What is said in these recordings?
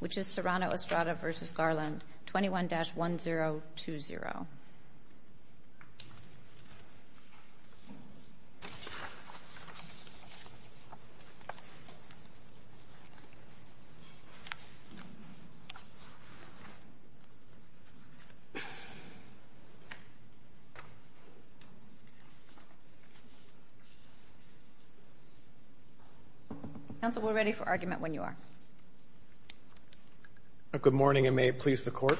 which is Serrano-Estrada v. Garland, 21-1020. Council, we're ready for argument when you are. Good morning and may it please the Court.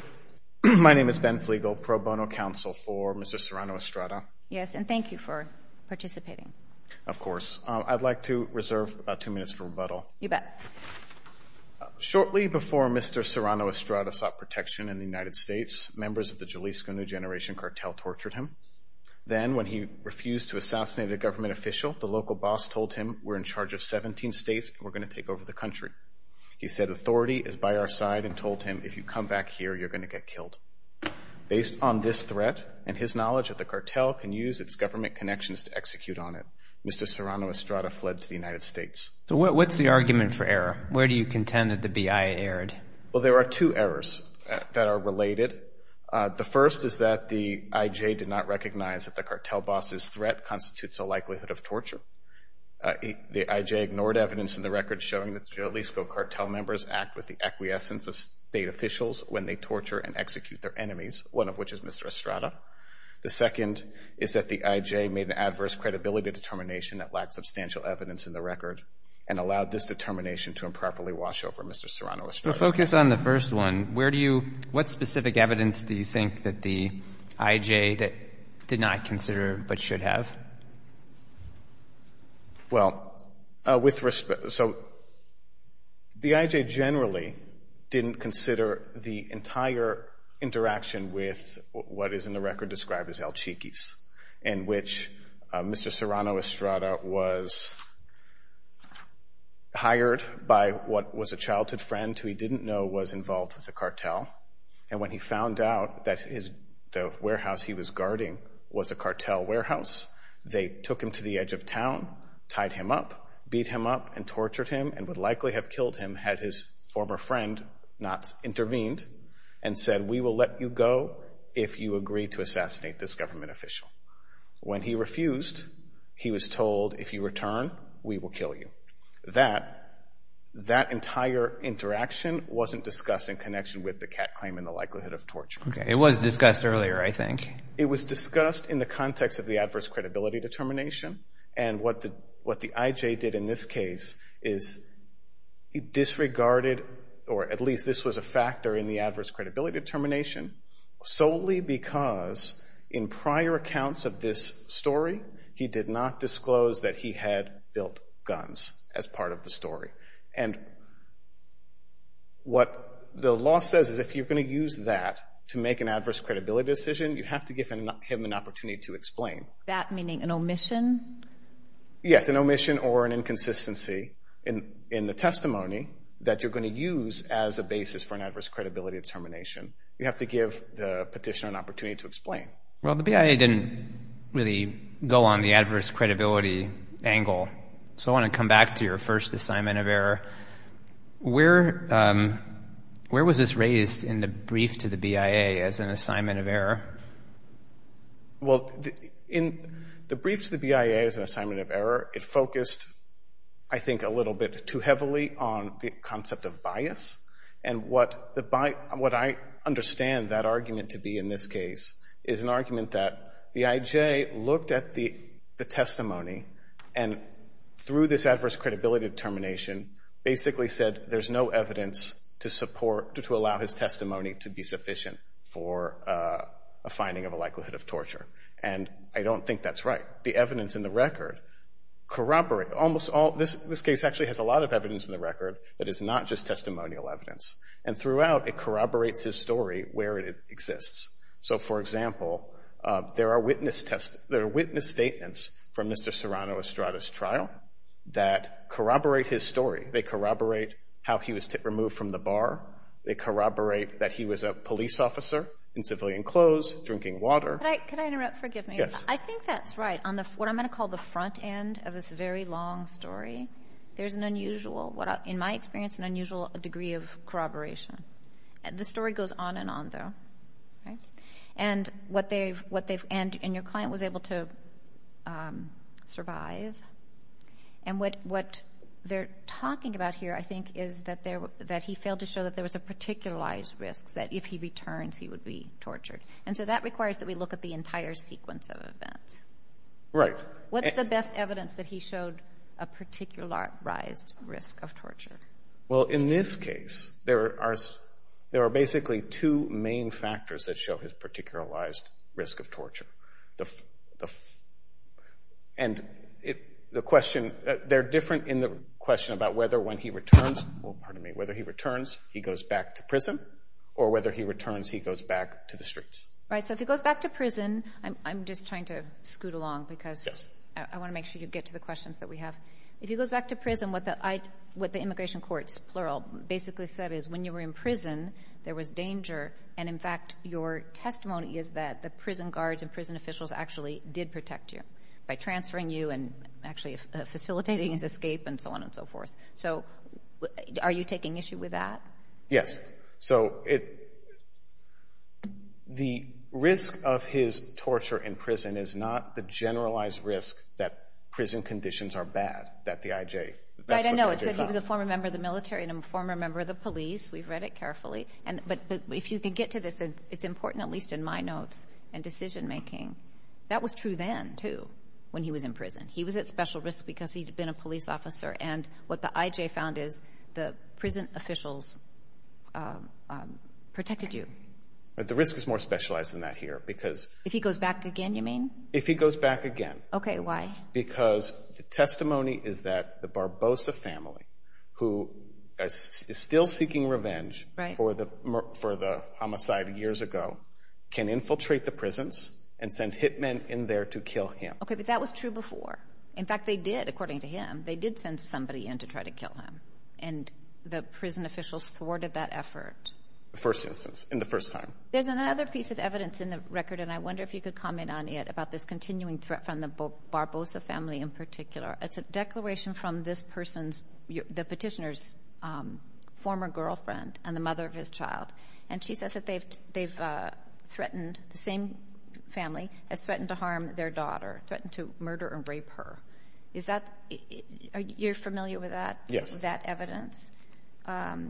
My name is Ben Flegel, pro bono counsel for Mr. Serrano-Estrada. Yes, and thank you for participating. Of course. I'd like to reserve about two minutes for rebuttal. You bet. Shortly before Mr. Serrano-Estrada sought protection in the United States, members of the Jalisco New Generation Cartel tortured him. Then, when he refused to assassinate a government official, the local boss told him, we're in charge of 17 states and we're going to take over the country. He said, authority is by our side and told him, if you come back here, you're going to get killed. Based on this threat and his knowledge that the cartel can use its government connections to execute on it, Mr. Serrano-Estrada fled to the United States. So what's the argument for error? Where do you contend that the B.I. erred? Well, there are two errors that are related. The first is that the I.J. did not recognize that the cartel boss's threat constitutes a likelihood of torture. The I.J. ignored evidence in the record showing that the Jalisco cartel members act with the acquiescence of state officials when they torture and execute their enemies, one of which is Mr. Estrada. The second is that the I.J. made an adverse credibility determination that lacked substantial evidence in the record and allowed this determination to improperly wash over Mr. Serrano-Estrada. So focus on the first one. Where do you, what specific evidence do you think that the I.J. did not consider but should have? Well, with respect, so the I.J. generally didn't consider the entire interaction with what is in the record described as El Chiquis in which Mr. Serrano-Estrada was hired by what was a childhood friend who he didn't know was involved with the cartel. And when he found out that the warehouse he was guarding was a cartel warehouse, they took him to the edge of town, tied him up, beat him up, and tortured him and would likely have killed him had his former friend not intervened and said, we will let you go if you agree to assassinate this government official. When he refused, he was told, if you return, we will kill you. That entire interaction wasn't discussed in connection with the cat claim and the likelihood of torture. Okay. It was discussed earlier, I think. It was discussed in the context of the adverse credibility determination. And what the I.J. did in this case is disregarded, or at least this was a factor in the adverse credibility determination solely because in prior accounts of this story, he did not disclose that he had built guns as part of the story. And what the law says is if you're going to use that to make an adverse credibility decision, you have to give him an opportunity to explain. That meaning an omission? Yes, an omission or an inconsistency in the testimony that you're going to use as a basis for an adverse credibility determination. You have to give the petitioner an opportunity to explain. Well, the BIA didn't really go on the adverse credibility angle, so I want to come back to your first assignment of error. Where was this raised in the brief to the BIA as an assignment of error? Well, in the brief to the BIA as an assignment of error, it focused, I think, a little bit too heavily on the concept of bias. And what I understand that argument to be in this case is an argument that the IJ looked at the testimony and through this adverse credibility determination basically said there's no evidence to support, to allow his testimony to be sufficient for a finding of a likelihood of torture. And I don't think that's right. The evidence in the record corroborates almost all. This case actually has a lot of evidence in the record that is not just testimonial evidence. And throughout, it corroborates his story where it exists. So, for example, there are witness statements from Mr. Serrano Estrada's trial that corroborate his story. They corroborate how he was removed from the bar. They corroborate that he was a police officer in civilian clothes drinking water. Could I interrupt? Forgive me. Yes. I think that's right. What I'm going to call the front end of this very long story, there's an unusual, in my experience, an unusual degree of corroboration. The story goes on and on, though. And your client was able to survive. And what they're talking about here, I think, is that he failed to show that there was a particularized risk, that if he returns, he would be tortured. And so that requires that we look at the entire sequence of events. Right. What's the best evidence that he showed a particularized risk of torture? Well, in this case, there are basically two main factors that show his particularized risk of torture. And the question, they're different in the question about whether when he returns, well, pardon me, whether he returns he goes back to prison or whether he returns he goes back to the streets. Right. So if he goes back to prison, I'm just trying to scoot along because I want to make sure you get to the questions that we have. If he goes back to prison, what the immigration courts, plural, basically said is when you were in prison, there was danger. And, in fact, your testimony is that the prison guards and prison officials actually did protect you by transferring you and actually facilitating his escape and so on and so forth. So are you taking issue with that? Yes. So the risk of his torture in prison is not the generalized risk that prison conditions are bad, that the IJ, that's what the IJ found. Right. No, it's that he was a former member of the military and a former member of the police. We've read it carefully. But if you can get to this, it's important at least in my notes and decision-making. That was true then, too, when he was in prison. He was at special risk because he had been a police officer. And what the IJ found is the prison officials protected you. But the risk is more specialized than that here because— If he goes back again, you mean? If he goes back again. Okay, why? Because the testimony is that the Barbosa family, who is still seeking revenge for the homicide years ago, can infiltrate the prisons and send hit men in there to kill him. Okay, but that was true before. In fact, they did, according to him. They did send somebody in to try to kill him. And the prison officials thwarted that effort. First instance, in the first time. There's another piece of evidence in the record, and I wonder if you could comment on it, about this continuing threat from the Barbosa family in particular. It's a declaration from this person's—the petitioner's former girlfriend and the mother of his child. And she says that they've threatened—the same family has threatened to harm their daughter, threatened to murder and rape her. Is that—you're familiar with that evidence? Yes.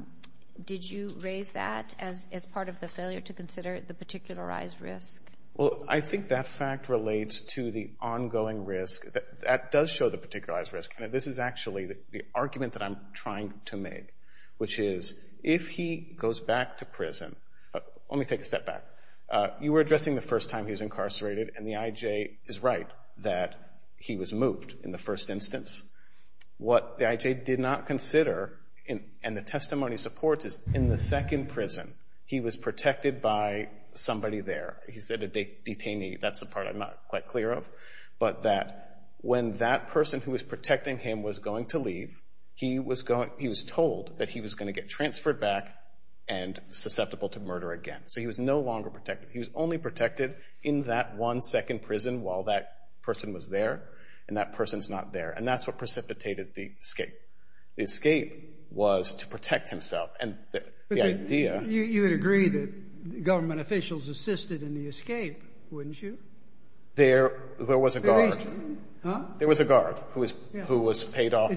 Did you raise that as part of the failure to consider the particularized risk? Well, I think that fact relates to the ongoing risk. That does show the particularized risk, and this is actually the argument that I'm trying to make, which is if he goes back to prison—let me take a step back. You were addressing the first time he was incarcerated, and the IJ is right that he was moved in the first instance. What the IJ did not consider, and the testimony supports, is in the second prison he was protected by somebody there. He said a detainee. That's the part I'm not quite clear of. But that when that person who was protecting him was going to leave, he was told that he was going to get transferred back and susceptible to murder again. So he was no longer protected. He was only protected in that one second prison while that person was there, and that person's not there. And that's what precipitated the escape. The escape was to protect himself, and the idea— You would agree that government officials assisted in the escape, wouldn't you? There was a guard. Huh? There was a guard who was paid off by—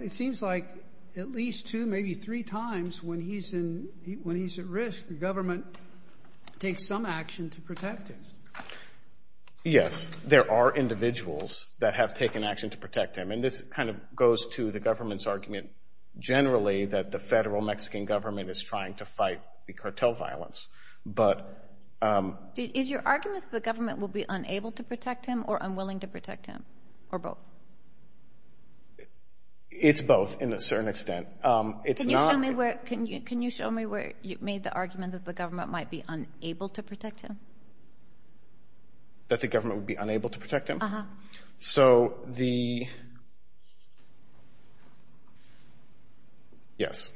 It seems like at least two, maybe three times when he's at risk, the government takes some action to protect him. Yes, there are individuals that have taken action to protect him, and this kind of goes to the government's argument generally that the federal Mexican government is trying to fight the cartel violence. But— Is your argument that the government will be unable to protect him or unwilling to protect him, or both? It's both in a certain extent. Can you show me where you made the argument that the government might be unable to protect him? That the government would be unable to protect him? Uh-huh. So the— Yes.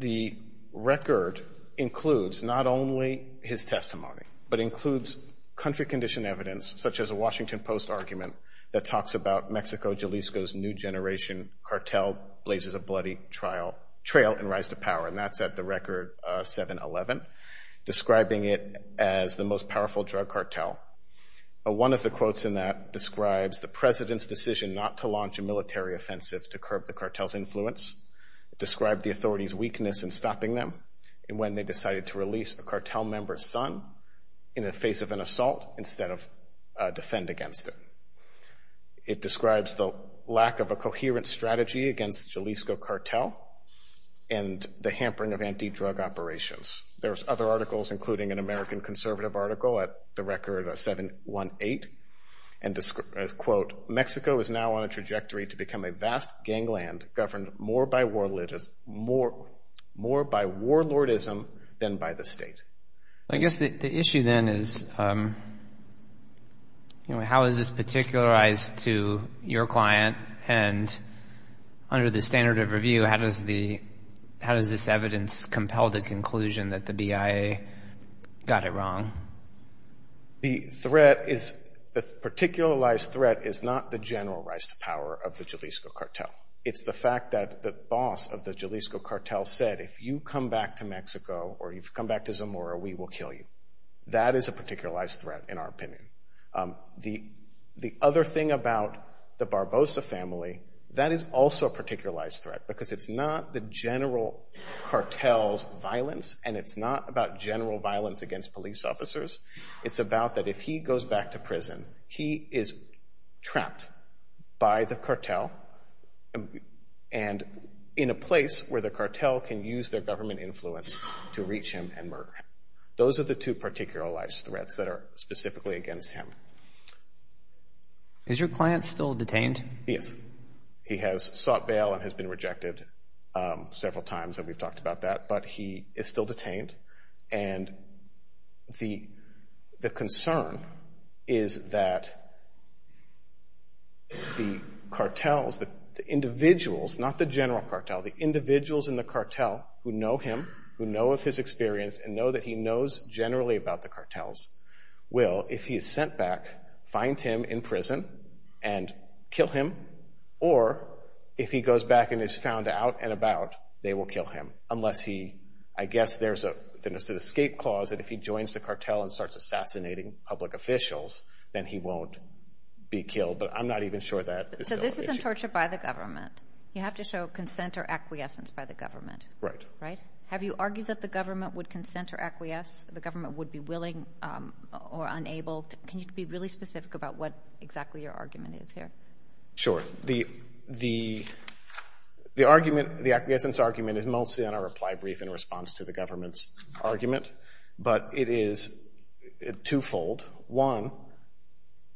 The record includes not only his testimony, but includes country condition evidence, such as a Washington Post argument that talks about Mexico Jalisco's new generation cartel blazes a bloody trail and rise to power, and that's at the record 7-11, describing it as the most powerful drug cartel. One of the quotes in that describes the president's decision not to launch a military offensive to curb the cartel's influence, described the authority's weakness in stopping them, and when they decided to release a cartel member's son in the face of an assault instead of defend against it. It describes the lack of a coherent strategy against the Jalisco cartel and the hampering of anti-drug operations. There's other articles, including an American conservative article at the record 7-1-8, and, quote, Mexico is now on a trajectory to become a vast gangland governed more by warlordism than by the state. I guess the issue then is, you know, how is this particularized to your client, and under the standard of review, how does this evidence compel the conclusion that the BIA got it wrong? The threat is, the particularized threat is not the general rise to power of the Jalisco cartel. It's the fact that the boss of the Jalisco cartel said, if you come back to Mexico or you come back to Zamora, we will kill you. That is a particularized threat, in our opinion. The other thing about the Barbosa family, that is also a particularized threat, because it's not the general cartel's violence and it's not about general violence against police officers. It's about that if he goes back to prison, he is trapped by the cartel and in a place where the cartel can use their government influence to reach him and murder him. Those are the two particularized threats that are specifically against him. Is your client still detained? Yes. He has sought bail and has been rejected several times, and we've talked about that, but he is still detained. And the concern is that the cartels, the individuals, not the general cartel, the individuals in the cartel who know him, who know of his experience, and know that he knows generally about the cartels, will, if he is sent back, find him in prison and kill him, or if he goes back and is found out and about, they will kill him. Unless he, I guess there's an escape clause that if he joins the cartel and starts assassinating public officials, then he won't be killed, but I'm not even sure that is still the case. So this isn't torture by the government. You have to show consent or acquiescence by the government. Right. Right? Have you argued that the government would consent or acquiesce, the government would be willing or unable? Can you be really specific about what exactly your argument is here? Sure. The argument, the acquiescence argument, is mostly on our reply brief in response to the government's argument, but it is twofold. One,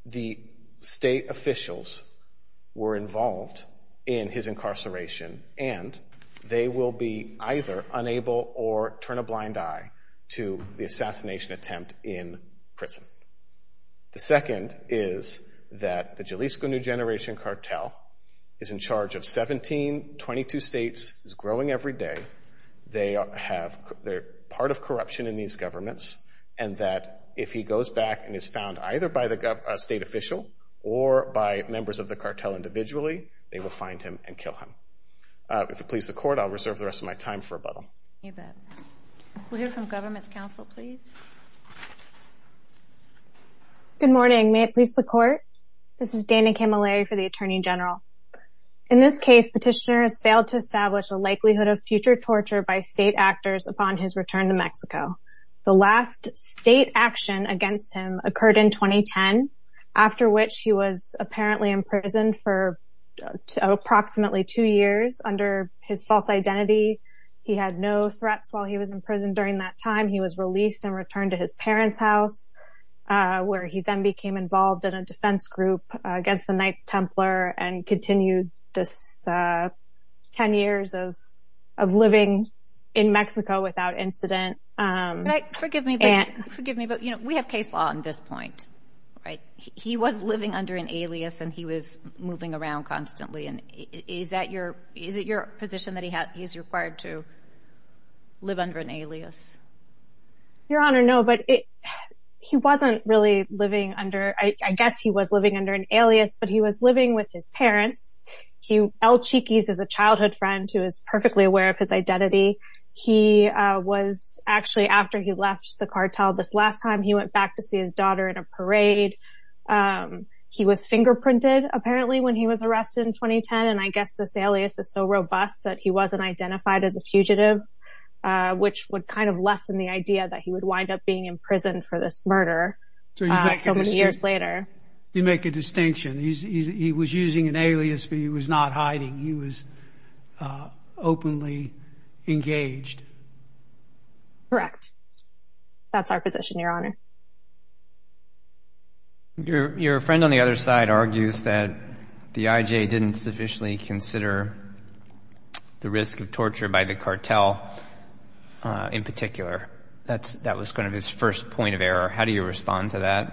the state officials were involved in his incarceration, and they will be either unable or turn a blind eye to the assassination attempt in prison. The second is that the Jalisco New Generation cartel is in charge of 17, 22 states. It's growing every day. They're part of corruption in these governments, and that if he goes back and is found either by a state official or by members of the cartel individually, they will find him and kill him. If it pleases the court, I'll reserve the rest of my time for rebuttal. You bet. We'll hear from government's counsel, please. Good morning. May it please the court? This is Dana Camilleri for the Attorney General. In this case, Petitioner has failed to establish the likelihood of future torture by state actors upon his return to Mexico. The last state action against him occurred in 2010, after which he was apparently imprisoned for approximately two years under his false identity. He had no threats while he was in prison during that time. He was released and returned to his parents' house, where he then became involved in a defense group against the Knights Templar and continued this 10 years of living in Mexico without incident. Forgive me, but we have case law on this point, right? He was living under an alias, and he was moving around constantly. Is it your position that he's required to live under an alias? Your Honor, no, but he wasn't really living under – I guess he was living under an alias, but he was living with his parents. El Chiquis is a childhood friend who is perfectly aware of his identity. He was – actually, after he left the cartel this last time, he went back to see his daughter in a parade. He was fingerprinted, apparently, when he was arrested in 2010, and I guess this alias is so robust that he wasn't identified as a fugitive, which would kind of lessen the idea that he would wind up being imprisoned for this murder so many years later. You make a distinction. He was using an alias, but he was not hiding. He was openly engaged. Correct. That's our position, Your Honor. Your friend on the other side argues that the IJ didn't sufficiently consider the risk of torture by the cartel in particular. That was kind of his first point of error. How do you respond to that?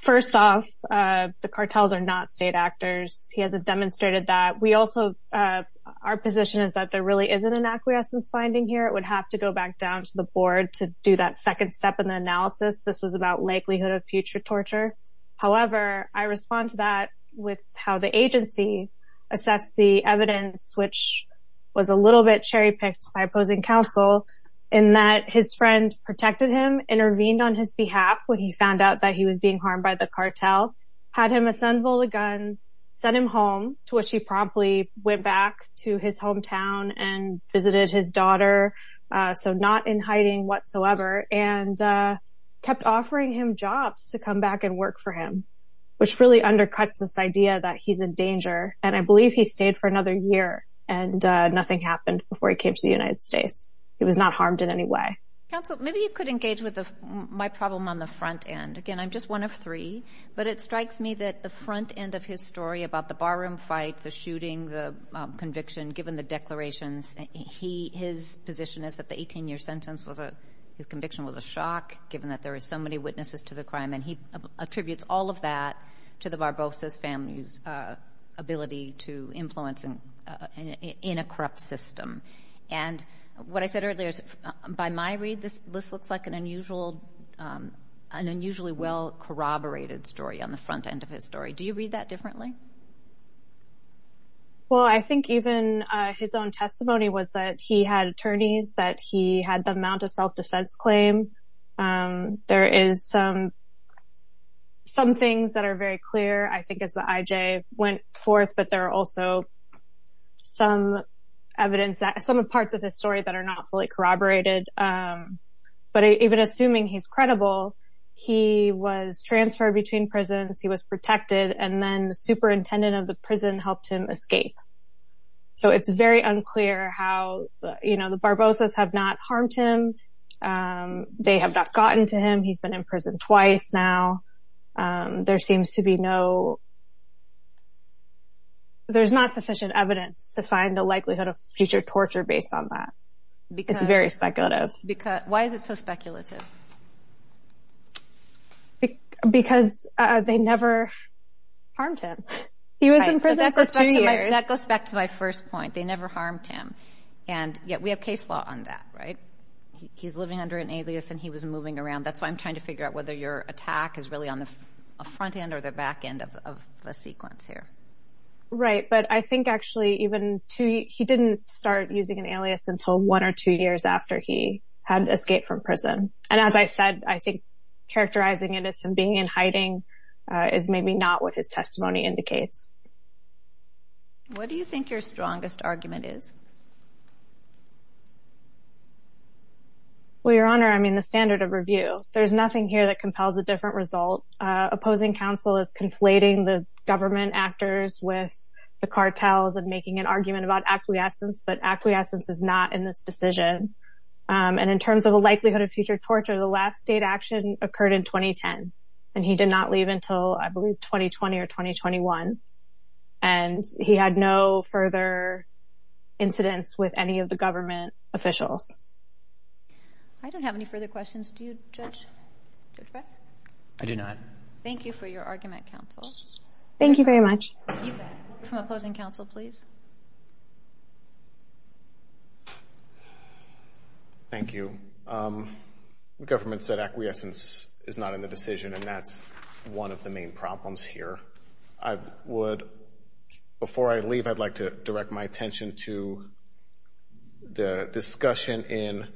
First off, the cartels are not state actors. He hasn't demonstrated that. We also – our position is that there really isn't an acquiescence finding here. It would have to go back down to the board to do that second step in the analysis. This was about likelihood of future torture. However, I respond to that with how the agency assessed the evidence, which was a little bit cherry-picked by opposing counsel in that his friend protected him, intervened on his behalf when he found out that he was being harmed by the cartel, had him assemble the guns, sent him home, to which he promptly went back to his hometown and visited his daughter, so not in hiding whatsoever, and kept offering him jobs to come back and work for him, which really undercuts this idea that he's in danger. And I believe he stayed for another year, and nothing happened before he came to the United States. He was not harmed in any way. Counsel, maybe you could engage with my problem on the front end. Again, I'm just one of three, but it strikes me that the front end of his story about the barroom fight, the shooting, the conviction, given the declarations, his position is that the 18-year sentence was a – his conviction was a shock, given that there were so many witnesses to the crime, and he attributes all of that to the Barbosa's family's ability to influence in a corrupt system. And what I said earlier is by my read, this looks like an unusual – an unusually well-corroborated story on the front end of his story. Do you read that differently? Well, I think even his own testimony was that he had attorneys, that he had them mount a self-defense claim. There is some things that are very clear, I think, as the IJ went forth, but there are also some evidence that – some parts of his story that are not fully corroborated. But even assuming he's credible, he was transferred between prisons, he was protected, and then the superintendent of the prison helped him escape. So it's very unclear how – you know, the Barbosa's have not harmed him. They have not gotten to him. He's been in prison twice now. There seems to be no – there's not sufficient evidence to find the likelihood of future torture based on that. It's very speculative. Because – why is it so speculative? Because they never harmed him. He was in prison for two years. That goes back to my first point. They never harmed him. And yet we have case law on that, right? He's living under an alias and he was moving around. That's why I'm trying to figure out whether your attack is really on the front end or the back end of the sequence here. Right. But I think actually even – he didn't start using an alias until one or two years after he had escaped from prison. And as I said, I think characterizing it as him being in hiding is maybe not what his testimony indicates. What do you think your strongest argument is? Well, Your Honor, I mean the standard of review. There's nothing here that compels a different result. Opposing counsel is conflating the government actors with the cartels and making an argument about acquiescence, but acquiescence is not in this decision. And in terms of the likelihood of future torture, the last state action occurred in 2010. And he did not leave until I believe 2020 or 2021. And he had no further incidents with any of the government officials. I don't have any further questions. Do you, Judge? I do not. Thank you for your argument, counsel. Thank you very much. You bet. From opposing counsel, please. Thank you. The government said acquiescence is not in the decision, and that's one of the main problems here. I would – before I leave, I'd like to direct my attention to the discussion in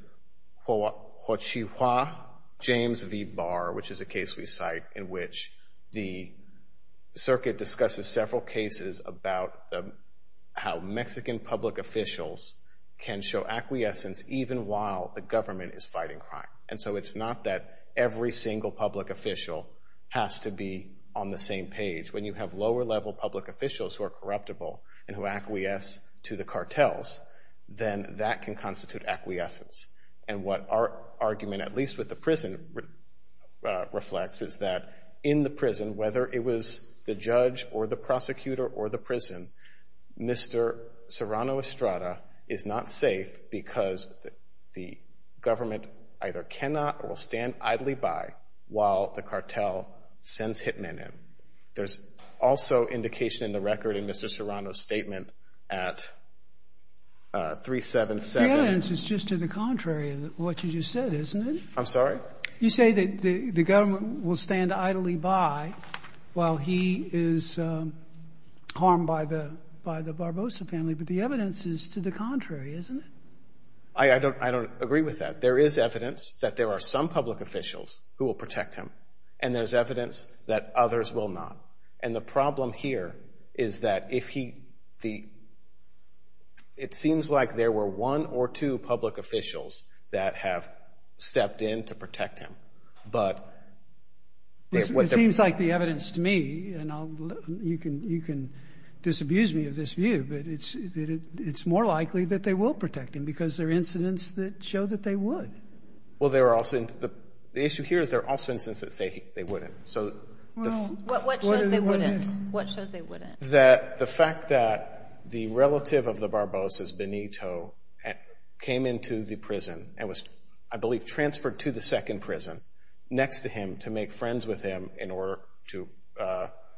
Joachim V. Bar, which is a case we cite in which the circuit discusses several cases about how Mexican public officials can show acquiescence even while the government is fighting crime. And so it's not that every single public official has to be on the same page. When you have lower-level public officials who are corruptible and who acquiesce to the cartels, then that can constitute acquiescence. And what our argument, at least with the prison, reflects is that in the prison, whether it was the judge or the prosecutor or the prison, Mr. Serrano Estrada is not safe because the government either cannot or will stand idly by while the cartel sends hitmen in. There's also indication in the record in Mr. Serrano's statement at 377. It's just to the contrary of what you just said, isn't it? I'm sorry? You say that the government will stand idly by while he is harmed by the Barbosa family, but the evidence is to the contrary, isn't it? I don't agree with that. There is evidence that there are some public officials who will protect him, and there's evidence that others will not. And the problem here is that if he—it seems like there were one or two public officials that have stepped in to protect him, but— It seems like the evidence to me, and you can disabuse me of this view, but it's more likely that they will protect him because there are incidents that show that they would. Well, there are also—the issue here is there are also incidents that say they wouldn't. What shows they wouldn't? That the fact that the relative of the Barbosas, Benito, came into the prison and was, I believe, transferred to the second prison next to him to make friends with him in order to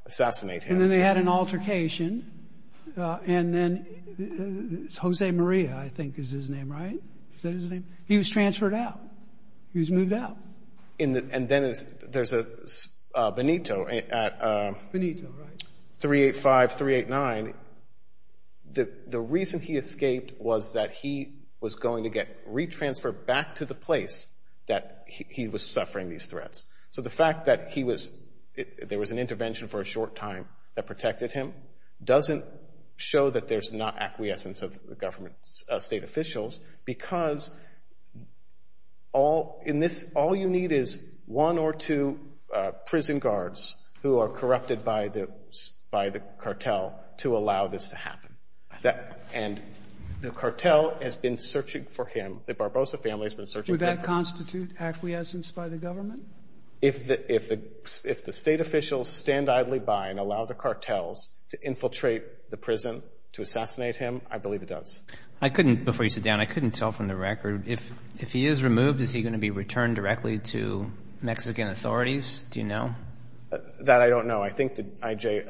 assassinate him. And then they had an altercation, and then Jose Maria, I think, is his name, right? Is that his name? He was transferred out. He was moved out. And then there's Benito at 385, 389. The reason he escaped was that he was going to get re-transferred back to the place that he was suffering these threats. So the fact that he was—there was an intervention for a short time that protected him doesn't show that there's not acquiescence of government state officials because all you need is one or two prison guards who are corrupted by the cartel to allow this to happen. And the cartel has been searching for him. The Barbosa family has been searching for him. Would that constitute acquiescence by the government? If the state officials stand idly by and allow the cartels to infiltrate the prison to assassinate him, I believe it does. Before you sit down, I couldn't tell from the record, if he is removed, is he going to be returned directly to Mexican authorities? Do you know? That I don't know. I think that I.J.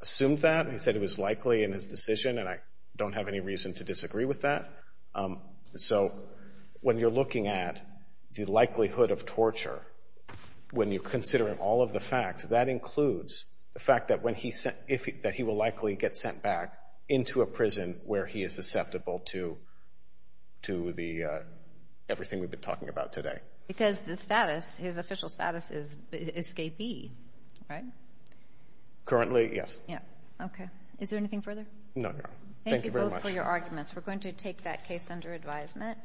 assumed that. He said it was likely in his decision, and I don't have any reason to disagree with that. So when you're looking at the likelihood of torture, when you're considering all of the facts, that includes the fact that he will likely get sent back into a prison where he is susceptible to everything we've been talking about today. Because the status, his official status is escapee, right? Currently, yes. Okay. Is there anything further? No, no. Thank you very much. Thank you both for your arguments. We're going to take that case under advisement.